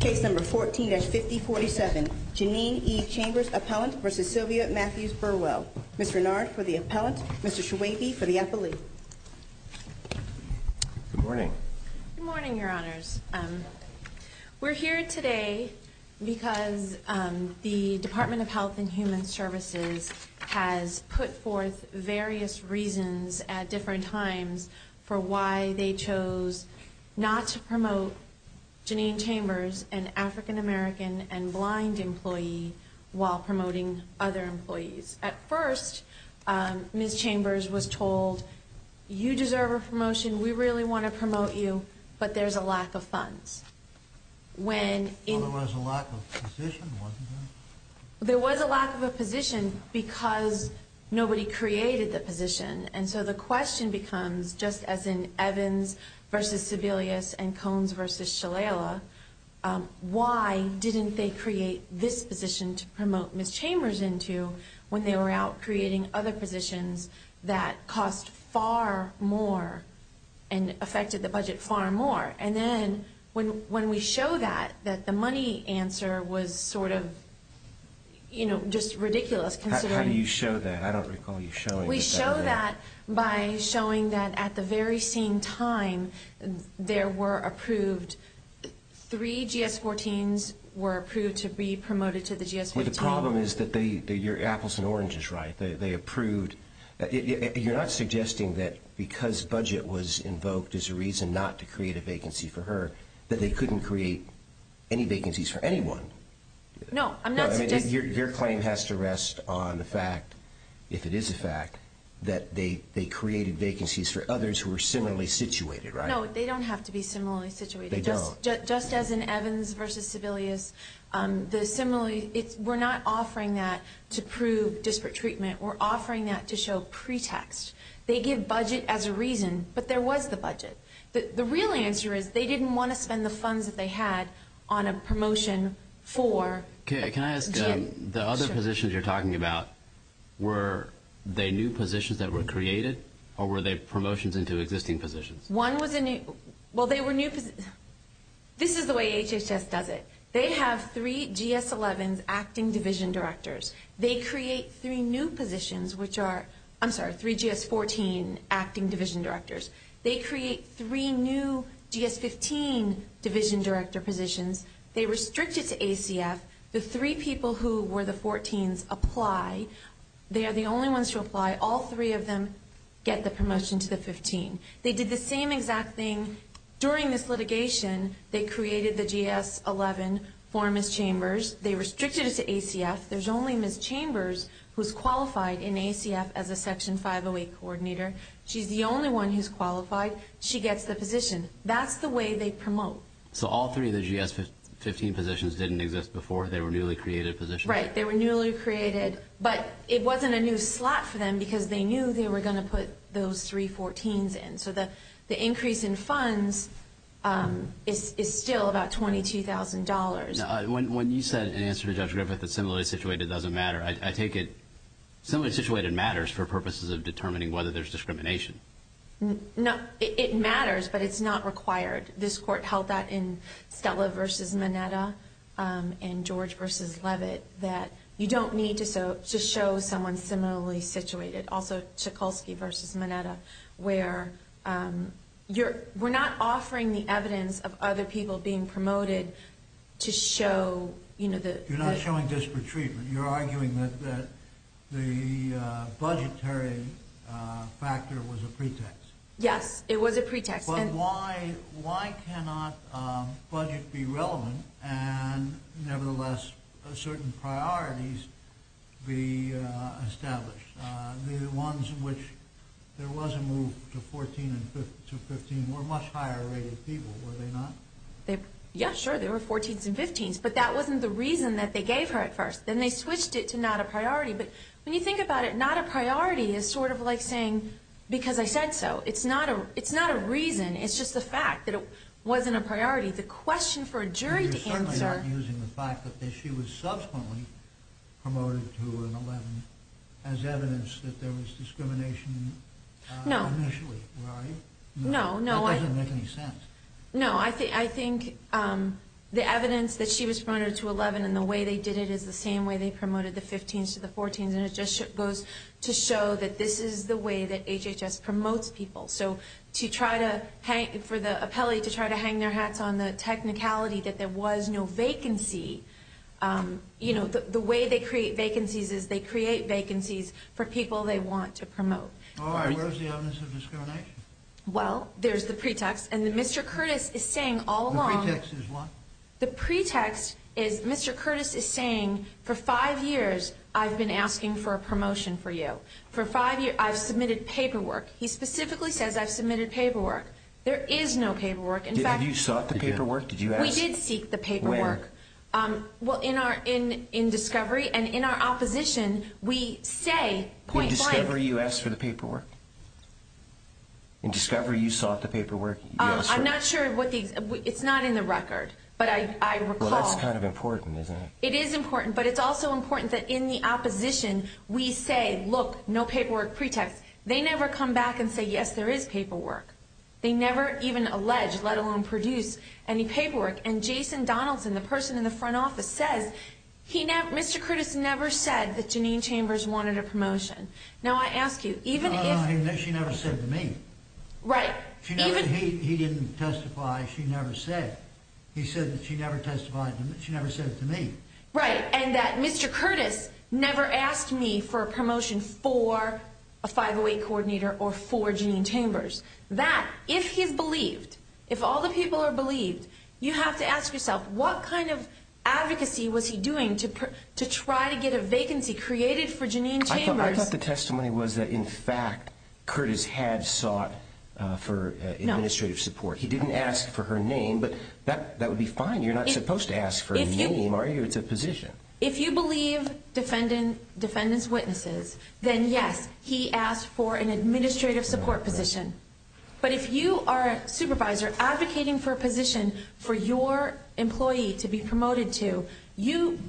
Case number 14-5047, Janene E. Chambers, Appellant v. Sylvia Mathews Burwell. Ms. Renard for the Appellant, Mr. Schwabe for the Appellee. Good morning. Good morning, Your Honors. We're here today because the Department of Health and Human Services has put forth various reasons at different times for why they chose not to promote Janene Chambers, an African-American and blind employee, while promoting other employees. At first, Ms. Chambers was told, you deserve a promotion, we really want to promote you, but there's a lack of funds. There was a lack of position, wasn't there? There was a lack of a position because nobody created the position. And so the question becomes, just as in Evans v. Sebelius and Coens v. Shalala, why didn't they create this position to promote Ms. Chambers into when they were out creating other positions that cost far more and affected the budget far more? And then when we show that, that the money answer was sort of just ridiculous. How do you show that? I don't recall you showing it. We show that by showing that at the very same time there were approved, three GS-14s were approved to be promoted to the GS-14. Well, the problem is that your apples and oranges, right? They approved. You're not suggesting that because budget was invoked as a reason not to create a vacancy for her that they couldn't create any vacancies for anyone? No, I'm not suggesting that. Your claim has to rest on the fact, if it is a fact, that they created vacancies for others who were similarly situated, right? No, they don't have to be similarly situated. They don't. Just as in Evans v. Sebelius, we're not offering that to prove disparate treatment. We're offering that to show pretext. They give budget as a reason, but there was the budget. The real answer is they didn't want to spend the funds that they had on a promotion for Jim. Okay. Can I ask the other positions you're talking about, were they new positions that were created or were they promotions into existing positions? One was a new – well, they were new – this is the way HHS does it. They have three GS-11s acting division directors. They create three new positions, which are – I'm sorry, three GS-14 acting division directors. They create three new GS-15 division director positions. They restrict it to ACF. The three people who were the 14s apply. They are the only ones who apply. All three of them get the promotion to the 15. They did the same exact thing during this litigation. They created the GS-11 for Ms. Chambers. They restricted it to ACF. There's only Ms. Chambers who's qualified in ACF as a Section 508 coordinator. She's the only one who's qualified. She gets the position. That's the way they promote. So all three of the GS-15 positions didn't exist before? They were newly created positions? Right. They were newly created, but it wasn't a new slot for them because they knew they were going to put those three 14s in. So the increase in funds is still about $22,000. When you said in answer to Judge Griffith that similarly situated doesn't matter, I take it similarly situated matters for purposes of determining whether there's discrimination. No. It matters, but it's not required. This court held that in Stella v. Mineta and George v. Levitt that you don't need to show someone similarly situated. Also, Tchikulsky v. Mineta, where we're not offering the evidence of other people being promoted to show. You're not showing disparate treatment. You're arguing that the budgetary factor was a pretext. Yes, it was a pretext. But why cannot budget be relevant and nevertheless certain priorities be established? The ones in which there was a move to 14 and 15 were much higher rated people, were they not? Yeah, sure, there were 14s and 15s, but that wasn't the reason that they gave her at first. Then they switched it to not a priority. But when you think about it, not a priority is sort of like saying because I said so. It's not a reason, it's just a fact that it wasn't a priority. The question for a jury to answer... You're certainly not using the fact that she was subsequently promoted to an 11 as evidence that there was discrimination initially, right? No, no. That doesn't make any sense. No, I think the evidence that she was promoted to 11 and the way they did it is the same way they promoted the 15s to the 14s, and it just goes to show that this is the way that HHS promotes people. So for the appellee to try to hang their hats on the technicality that there was no vacancy, the way they create vacancies is they create vacancies for people they want to promote. All right, where's the evidence of discrimination? Well, there's the pretext, and Mr. Curtis is saying all along... The pretext is what? The pretext is Mr. Curtis is saying for five years I've been asking for a promotion for you. For five years I've submitted paperwork. He specifically says I've submitted paperwork. There is no paperwork. Have you sought the paperwork? We did seek the paperwork. Where? Well, in discovery and in our opposition we say point blank... In discovery you asked for the paperwork? In discovery you sought the paperwork? I'm not sure what the... It's not in the record, but I recall... Well, that's kind of important, isn't it? It is important, but it's also important that in the opposition we say, look, no paperwork pretext. They never come back and say, yes, there is paperwork. They never even allege, let alone produce, any paperwork. And Jason Donaldson, the person in the front office, says Mr. Curtis never said that Janine Chambers wanted a promotion. Now, I ask you, even if... No, she never said to me. Right. Even... He didn't testify. She never said. He said that she never testified to me. She never said it to me. Right, and that Mr. Curtis never asked me for a promotion for a 508 coordinator or for Janine Chambers. That, if he's believed, if all the people are believed, you have to ask yourself, what kind of advocacy was he doing to try to get a vacancy created for Janine Chambers? I thought the testimony was that, in fact, Curtis had sought for administrative support. He didn't ask for her name, but that would be fine. You're not supposed to ask for a name, are you? It's a position. If you believe defendant's witnesses, then yes, he asked for an administrative support position. But if you are a supervisor advocating for a position for your employee to be promoted to,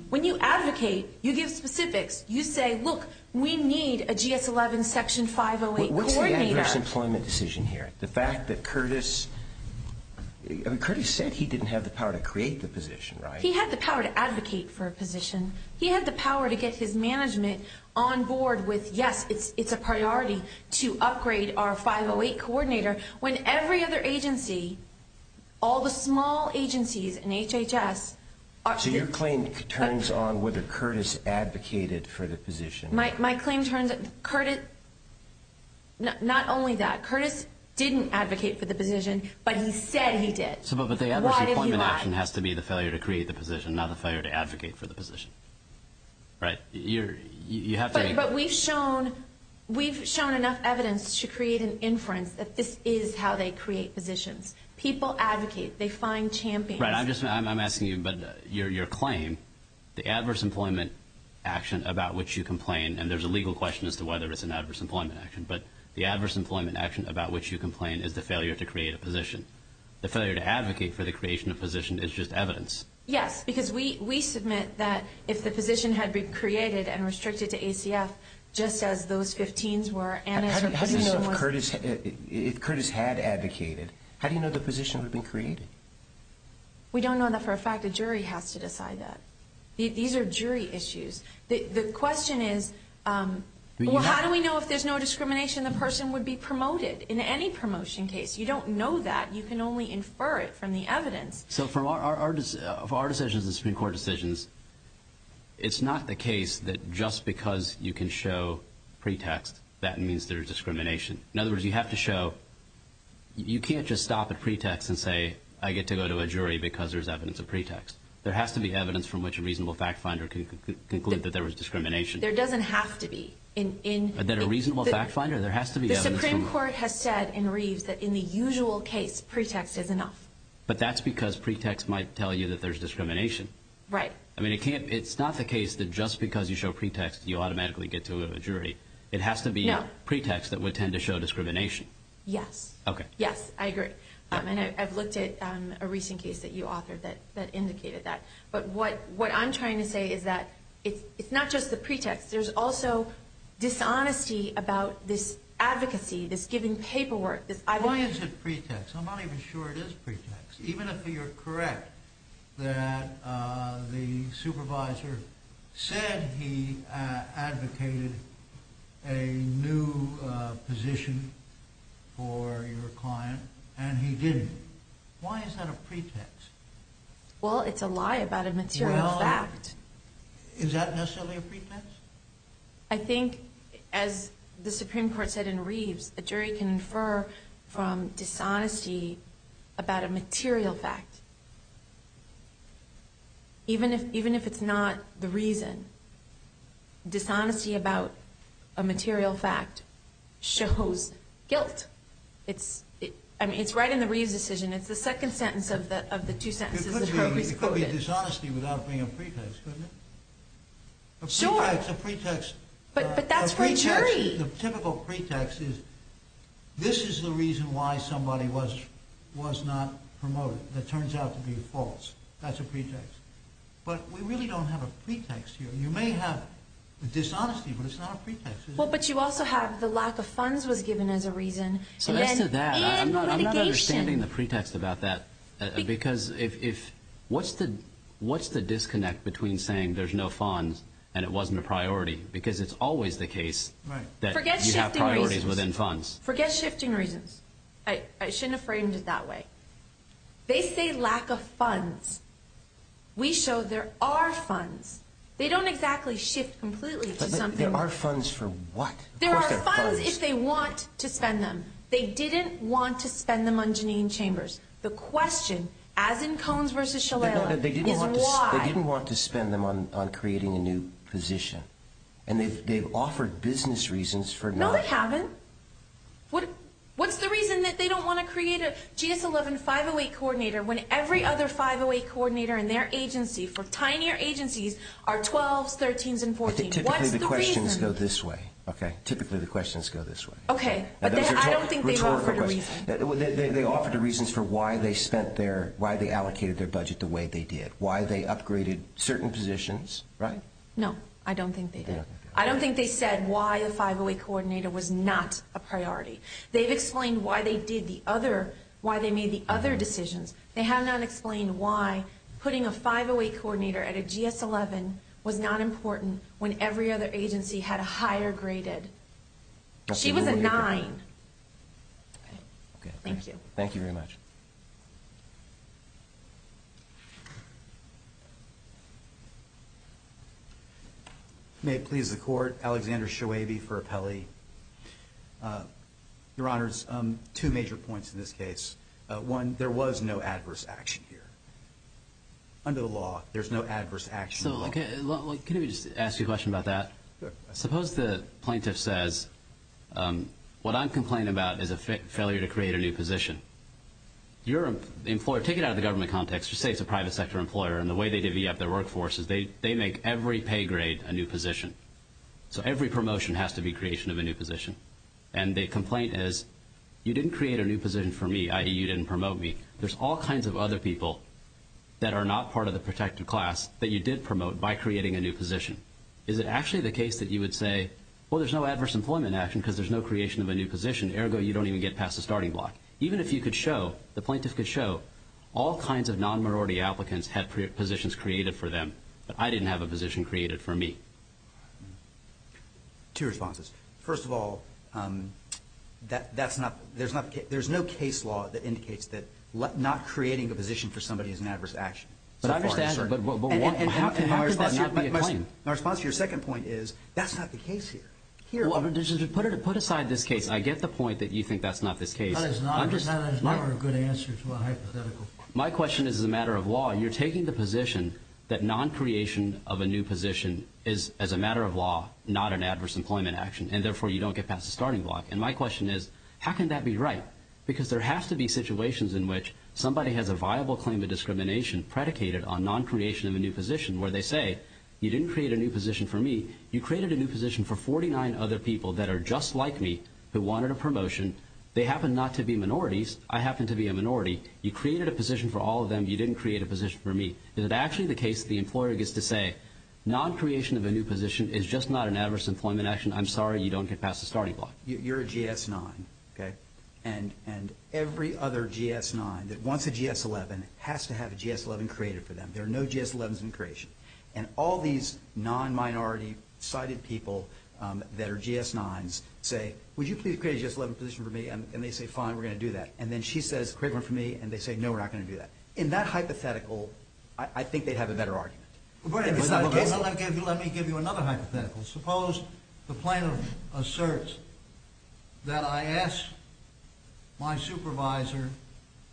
when you advocate, you give specifics. You say, look, we need a GS-11 Section 508 coordinator. What's the adverse employment decision here? The fact that Curtis... I mean, Curtis said he didn't have the power to create the position, right? He had the power to advocate for a position. He had the power to get his management on board with, yes, it's a priority to upgrade our 508 coordinator, when every other agency, all the small agencies in HHS... So your claim turns on whether Curtis advocated for the position. My claim turns... Not only that, Curtis didn't advocate for the position, but he said he did. But the adverse employment action has to be the failure to create the position, not the failure to advocate for the position, right? But we've shown enough evidence to create an inference that this is how they create positions. People advocate. They find champions. Right. I'm asking you, but your claim, the adverse employment action about which you complain, and there's a legal question as to whether it's an adverse employment action, but the adverse employment action about which you complain is the failure to create a position. The failure to advocate for the creation of a position is just evidence. Yes, because we submit that if the position had been created and restricted to ACF, just as those 15s were... How do you know if Curtis had advocated? How do you know the position would be created? We don't know that for a fact. A jury has to decide that. These are jury issues. The question is, well, how do we know if there's no discrimination, the person would be promoted in any promotion case? You don't know that. You can only infer it from the evidence. So for our decisions and Supreme Court decisions, it's not the case that just because you can show pretext, that means there's discrimination. In other words, you have to show... You can't just stop at pretext and say, I get to go to a jury because there's evidence of pretext. There has to be evidence from which a reasonable fact finder can conclude that there was discrimination. There doesn't have to be. That a reasonable fact finder, there has to be evidence... The Supreme Court has said in Reeves that in the usual case, pretext is enough. But that's because pretext might tell you that there's discrimination. Right. I mean, it's not the case that just because you show pretext, you automatically get to a jury. It has to be pretext that would tend to show discrimination. Yes. Okay. Yes, I agree. And I've looked at a recent case that you authored that indicated that. But what I'm trying to say is that it's not just the pretext. There's also dishonesty about this advocacy, this giving paperwork. Why is it pretext? I'm not even sure it is pretext. Even if you're correct that the supervisor said he advocated a new position for your client and he didn't. Why is that a pretext? Well, it's a lie about a material fact. Well, is that necessarily a pretext? I think, as the Supreme Court said in Reeves, a jury can infer from dishonesty about a material fact. Even if it's not the reason, dishonesty about a material fact shows guilt. It's right in the Reeves decision. It's the second sentence of the two sentences that Herbie's quoted. It could be dishonesty without being a pretext, couldn't it? Sure. A pretext. But that's for a jury. The typical pretext is, this is the reason why somebody was not promoted. That turns out to be false. That's a pretext. But we really don't have a pretext here. You may have dishonesty, but it's not a pretext, is it? Well, but you also have the lack of funds was given as a reason. So as to that, I'm not understanding the pretext about that. Because what's the disconnect between saying there's no funds and it wasn't a priority? Because it's always the case that you have priorities within funds. Forget shifting reasons. I shouldn't have framed it that way. They say lack of funds. We show there are funds. They don't exactly shift completely. But there are funds for what? There are funds if they want to spend them. They didn't want to spend them on Jeanine Chambers. The question, as in Coens versus Shalala, is why? They didn't want to spend them on creating a new position. And they've offered business reasons for not. No, they haven't. What's the reason that they don't want to create a GS-11 508 coordinator when every other 508 coordinator in their agency, for tinier agencies, are 12s, 13s, and 14s? What's the reason? Typically the questions go this way. Okay. Typically the questions go this way. Okay, but I don't think they've offered a reason. They offered a reason for why they allocated their budget the way they did, why they upgraded certain positions, right? No, I don't think they did. I don't think they said why a 508 coordinator was not a priority. They've explained why they made the other decisions. They have not explained why putting a 508 coordinator at a GS-11 was not important when every other agency had a higher graded. She was a 9. Okay. Thank you. Thank you very much. May it please the Court, Alexander Shoaib for Appellee. Your Honors, two major points in this case. One, there was no adverse action here. Under the law, there's no adverse action at all. Can I just ask you a question about that? Sure. Suppose the plaintiff says, what I'm complaining about is a failure to create a new position. Take it out of the government context. Just say it's a private sector employer, and the way they divvy up their workforce is they make every pay grade a new position. So every promotion has to be creation of a new position. And the complaint is, you didn't create a new position for me, i.e., you didn't promote me. There's all kinds of other people that are not part of the protected class that you did promote by creating a new position. Is it actually the case that you would say, well, there's no adverse employment action because there's no creation of a new position, ergo you don't even get past the starting block? Even if you could show, the plaintiff could show, all kinds of non-minority applicants had positions created for them, but I didn't have a position created for me. Two responses. First of all, there's no case law that indicates that not creating a position for somebody is an adverse action. How could that not be a claim? My response to your second point is, that's not the case here. Put aside this case. I get the point that you think that's not the case. That is not a good answer to a hypothetical. My question is, as a matter of law, you're taking the position that non-creation of a new position is, as a matter of law, not an adverse employment action, and therefore you don't get past the starting block. And my question is, how can that be right? Because there have to be situations in which somebody has a viable claim of discrimination predicated on non-creation of a new position, where they say, you didn't create a new position for me. You created a new position for 49 other people that are just like me, who wanted a promotion. They happen not to be minorities. I happen to be a minority. You created a position for all of them. You didn't create a position for me. Is it actually the case that the employer gets to say, non-creation of a new position is just not an adverse employment action. I'm sorry you don't get past the starting block. You're a GS-9. And every other GS-9 that wants a GS-11 has to have a GS-11 created for them. There are no GS-11s in creation. And all these non-minority-sided people that are GS-9s say, would you please create a GS-11 position for me? And they say, fine, we're going to do that. And then she says, create one for me. And they say, no, we're not going to do that. In that hypothetical, I think they'd have a better argument. But let me give you another hypothetical. Suppose the plaintiff asserts that I ask my supervisor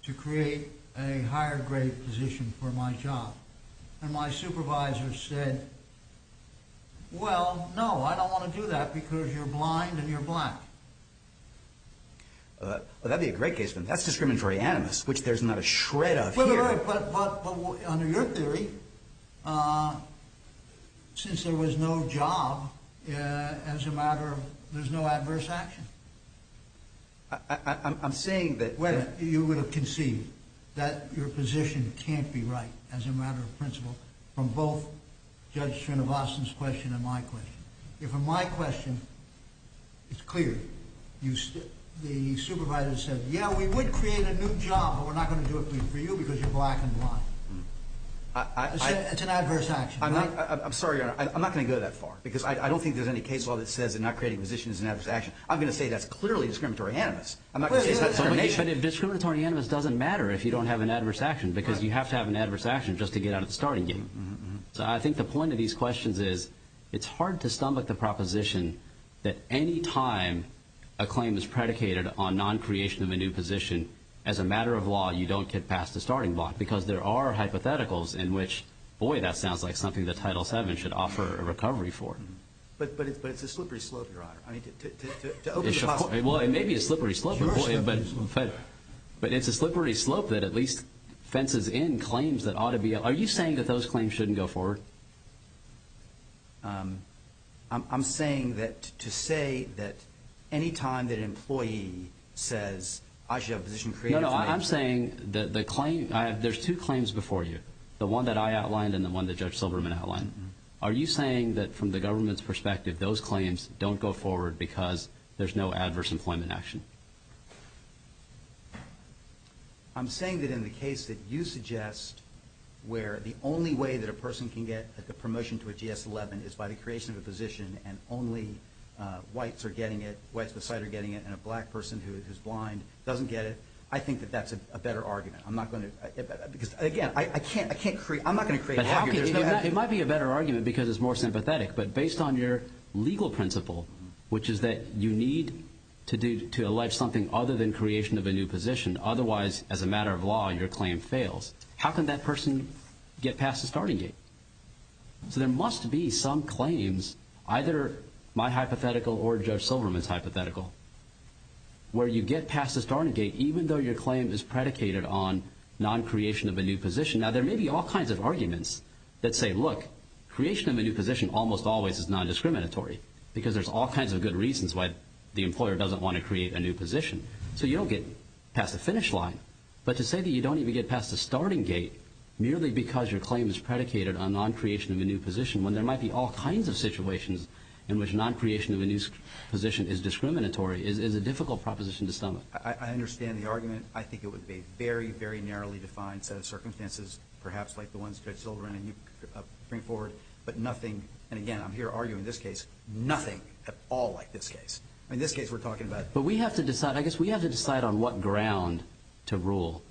to create a higher-grade position for my job. And my supervisor said, well, no, I don't want to do that because you're blind and you're black. Well, that would be a great case. But that's discriminatory animus, which there's not a shred of here. But under your theory, since there was no job, as a matter of, there's no adverse action. I'm saying that... Well, you would have conceived that your position can't be right, as a matter of principle, from both Judge Srinivasan's question and my question. If in my question, it's clear, the supervisor said, yeah, we would create a new job, but we're not going to do it for you because you're black and blind. It's an adverse action. I'm sorry, Your Honor. I'm not going to go that far because I don't think there's any case law that says that not creating a position is an adverse action. I'm going to say that's clearly discriminatory animus. I'm not going to say it's not discrimination. But discriminatory animus doesn't matter if you don't have an adverse action because you have to have an adverse action just to get out of the starting game. So I think the point of these questions is it's hard to stomach the proposition that any time a claim is predicated on non-creation of a new position, as a matter of law, you don't get past the starting block because there are hypotheticals in which, boy, that sounds like something that Title VII should offer a recovery for. But it's a slippery slope, Your Honor. Well, it may be a slippery slope, but it's a slippery slope that at least fences in claims that ought to be. Are you saying that those claims shouldn't go forward? No. I'm saying that to say that any time that an employee says, I should have a position created for me. No, no, I'm saying that there's two claims before you, the one that I outlined and the one that Judge Silberman outlined. Are you saying that from the government's perspective, those claims don't go forward because there's no adverse employment action? I'm saying that in the case that you suggest where the only way that a person can get a promotion to a GS-11 is by the creation of a position and only whites are getting it, whites with sight are getting it, and a black person who is blind doesn't get it, I think that that's a better argument. I'm not going to create an argument. It might be a better argument because it's more sympathetic, but based on your legal principle, which is that you need to allege something other than creation of a new position, otherwise, as a matter of law, your claim fails. How can that person get past the starting gate? So there must be some claims, either my hypothetical or Judge Silberman's hypothetical, where you get past the starting gate, even though your claim is predicated on non-creation of a new position. Now, there may be all kinds of arguments that say, look, creation of a new position almost always is non-discriminatory because there's all kinds of good reasons why the employer doesn't want to create a new position. So you don't get past the finish line. But to say that you don't even get past the starting gate, merely because your claim is predicated on non-creation of a new position, when there might be all kinds of situations in which non-creation of a new position is discriminatory, is a difficult proposition to sum up. I understand the argument. I think it would be a very, very narrowly defined set of circumstances, perhaps like the ones Judge Silberman and you bring forward, but nothing, and again, I'm here arguing this case, nothing at all like this case. In this case, we're talking about… But we have to decide, I guess we have to decide on what ground to rule.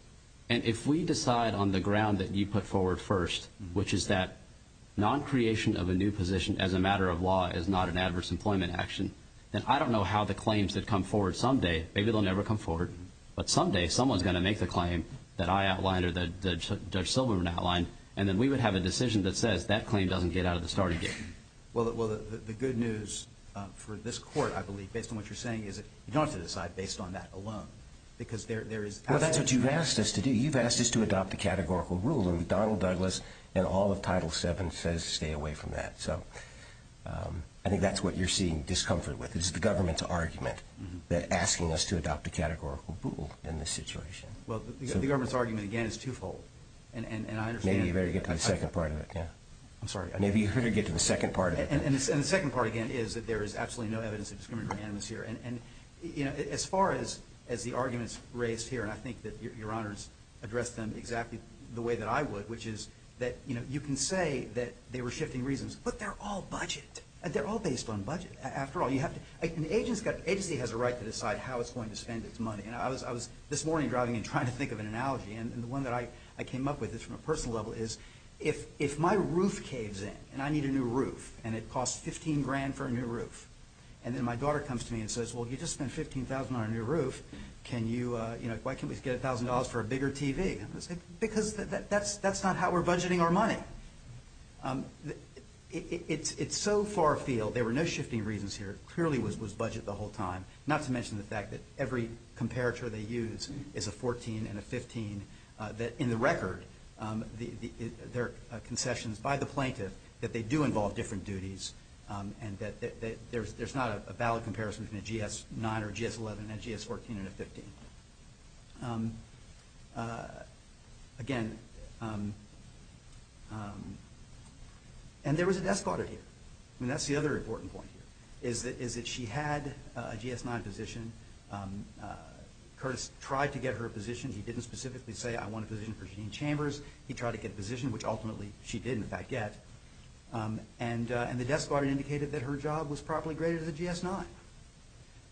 And if we decide on the ground that you put forward first, which is that non-creation of a new position as a matter of law is not an adverse employment action, then I don't know how the claims that come forward someday, maybe they'll never come forward, but someday someone's going to make the claim that I outlined or that Judge Silberman outlined, and then we would have a decision that says that claim doesn't get out of the starting gate. Well, the good news for this court, I believe, based on what you're saying, is that you don't have to decide based on that alone because there is… Well, that's what you've asked us to do. You've asked us to adopt a categorical rule, and Donald Douglas and all of Title VII says stay away from that. So I think that's what you're seeing discomfort with is the government's argument that asking us to adopt a categorical rule in this situation. Well, the government's argument, again, is twofold, and I understand… Maybe you better get to the second part of it, yeah. I'm sorry. Maybe you better get to the second part of it. And the second part, again, is that there is absolutely no evidence of discriminatory animus here. And, you know, as far as the arguments raised here, and I think that Your Honors addressed them exactly the way that I would, which is that, you know, you can say that they were shifting reasons, but they're all budget. They're all based on budget. After all, you have to… An agency has a right to decide how it's going to spend its money, and I was this morning driving and trying to think of an analogy, and the one that I came up with is from a personal level is if my roof caves in and I need a new roof and it costs $15,000 for a new roof, and then my daughter comes to me and says, well, you just spent $15,000 on a new roof. Can you, you know, why can't we just get $1,000 for a bigger TV? I'm going to say, because that's not how we're budgeting our money. It's so far afield. There were no shifting reasons here. It clearly was budget the whole time, not to mention the fact that every comparator they use is a $14,000 and a $15,000. In the record, there are concessions by the plaintiff that they do involve different duties and that there's not a valid comparison between a GS-9 or a GS-11 and a GS-14 and a 15. Again, and there was a desk order here, and that's the other important point here, is that she had a GS-9 position. Curtis tried to get her a position. He didn't specifically say, I want a position for Jean Chambers. He tried to get a position, which ultimately she did, in fact, get. And the desk order indicated that her job was properly graded as a GS-9.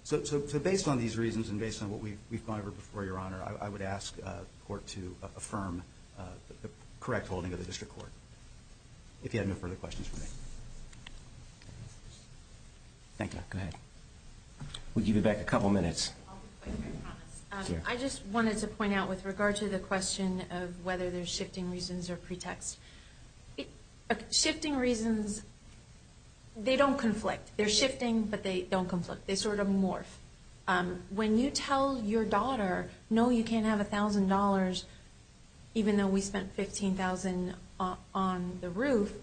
So based on these reasons and based on what we've gone over before, Your Honor, I would ask the Court to affirm the correct holding of the District Court, if you have no further questions for me. Thank you. Go ahead. We'll give you back a couple minutes. I just wanted to point out with regard to the question of whether there's shifting reasons or pretext. Shifting reasons, they don't conflict. They're shifting, but they don't conflict. They sort of morph. When you tell your daughter, no, you can't have $1,000, even though we spent $15,000 on the roof,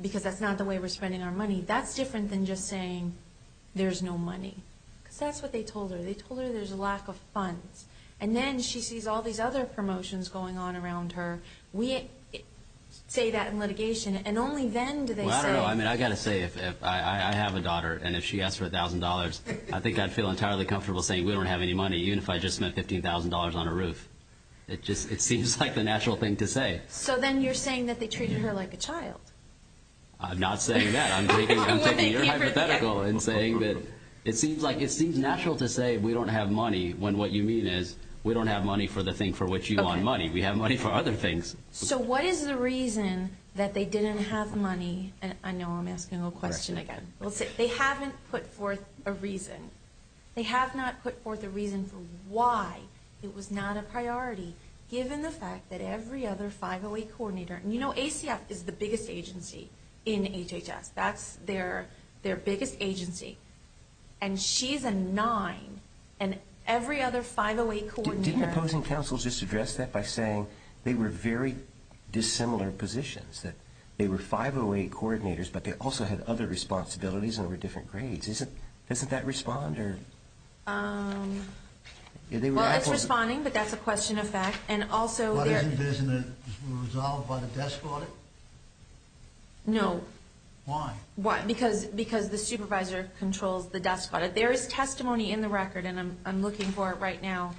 because that's not the way we're spending our money, that's different than just saying there's no money. Because that's what they told her. They told her there's a lack of funds. And then she sees all these other promotions going on around her. We say that in litigation, and only then do they say. Well, I don't know. I mean, I've got to say, if I have a daughter and if she asks for $1,000, I think I'd feel entirely comfortable saying we don't have any money, even if I just spent $15,000 on a roof. It just seems like the natural thing to say. So then you're saying that they treated her like a child. I'm not saying that. I'm taking your hypothetical and saying that it seems natural to say we don't have money when what you mean is we don't have money for the thing for which you want money. We have money for other things. So what is the reason that they didn't have money? I know I'm asking a question again. They haven't put forth a reason. They have not put forth a reason for why it was not a priority, given the fact that every other 508 coordinator. You know, ACF is the biggest agency in HHS. That's their biggest agency. And she's a nine. And every other 508 coordinator. Didn't the opposing counsel just address that by saying they were very dissimilar positions, that they were 508 coordinators, but they also had other responsibilities and were different grades? Doesn't that respond? Well, it's responding, but that's a question of fact. Isn't it resolved by the desk audit? No. Why? Because the supervisor controls the desk audit. There is testimony in the record, and I'm looking for it right now,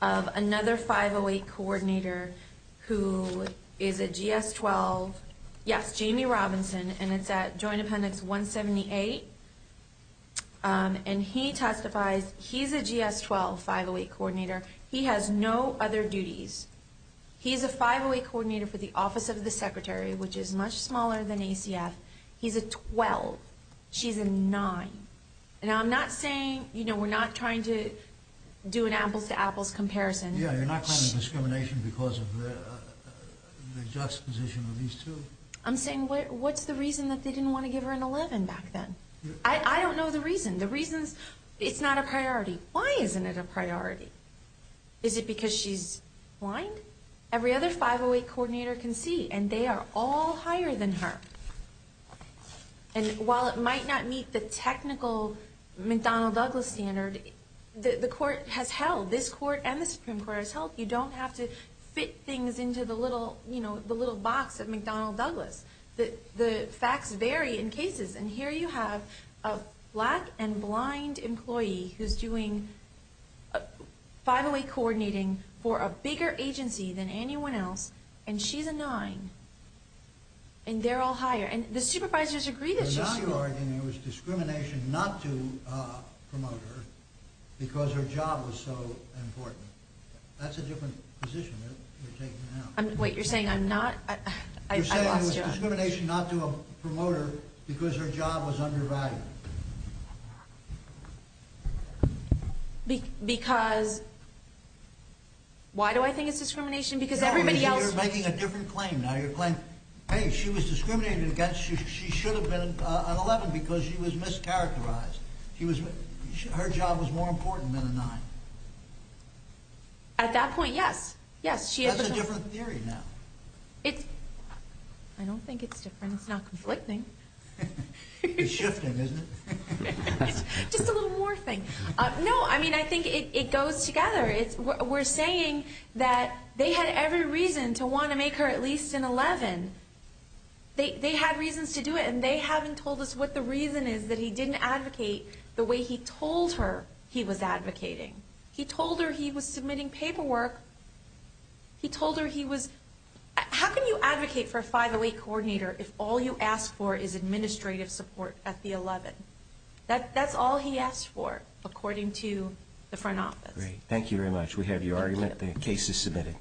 of another 508 coordinator who is a GS-12. Yes, Jamie Robinson, and it's at Joint Appendix 178. And he testifies. He's a GS-12 508 coordinator. He has no other duties. He's a 508 coordinator for the Office of the Secretary, which is much smaller than ACF. He's a 12. She's a nine. And I'm not saying, you know, we're not trying to do an apples-to-apples comparison. Yeah, you're not trying to discriminate because of the juxtaposition of these two? I'm saying what's the reason that they didn't want to give her an 11 back then? The reason is it's not a priority. Why isn't it a priority? Is it because she's blind? Every other 508 coordinator can see, and they are all higher than her. And while it might not meet the technical McDonnell-Douglas standard, the court has held, this court and the Supreme Court has held, you don't have to fit things into the little box of McDonnell-Douglas. The facts vary in cases. And here you have a black and blind employee who's doing 508 coordinating for a bigger agency than anyone else, and she's a nine. And they're all higher. And the supervisors agree that she's superior. But now you're arguing there was discrimination not to promote her because her job was so important. That's a different position you're taking now. Wait, you're saying I'm not? I lost you. You're saying there was discrimination not to promote her because her job was undervalued. Because why do I think it's discrimination? Yeah, you're making a different claim now. You're claiming, hey, she was discriminated against. She should have been an 11 because she was mischaracterized. Her job was more important than a nine. At that point, yes. That's a different theory now. I don't think it's different. It's not conflicting. It's shifting, isn't it? Just a little more thing. No, I mean, I think it goes together. We're saying that they had every reason to want to make her at least an 11. They had reasons to do it, and they haven't told us what the reason is that he didn't advocate the way he told her he was advocating. He told her he was submitting paperwork. He told her he was... How can you advocate for a 508 coordinator if all you ask for is administrative support at the 11? That's all he asked for, according to the front office. Great. Thank you very much. We have your argument. The case is submitted.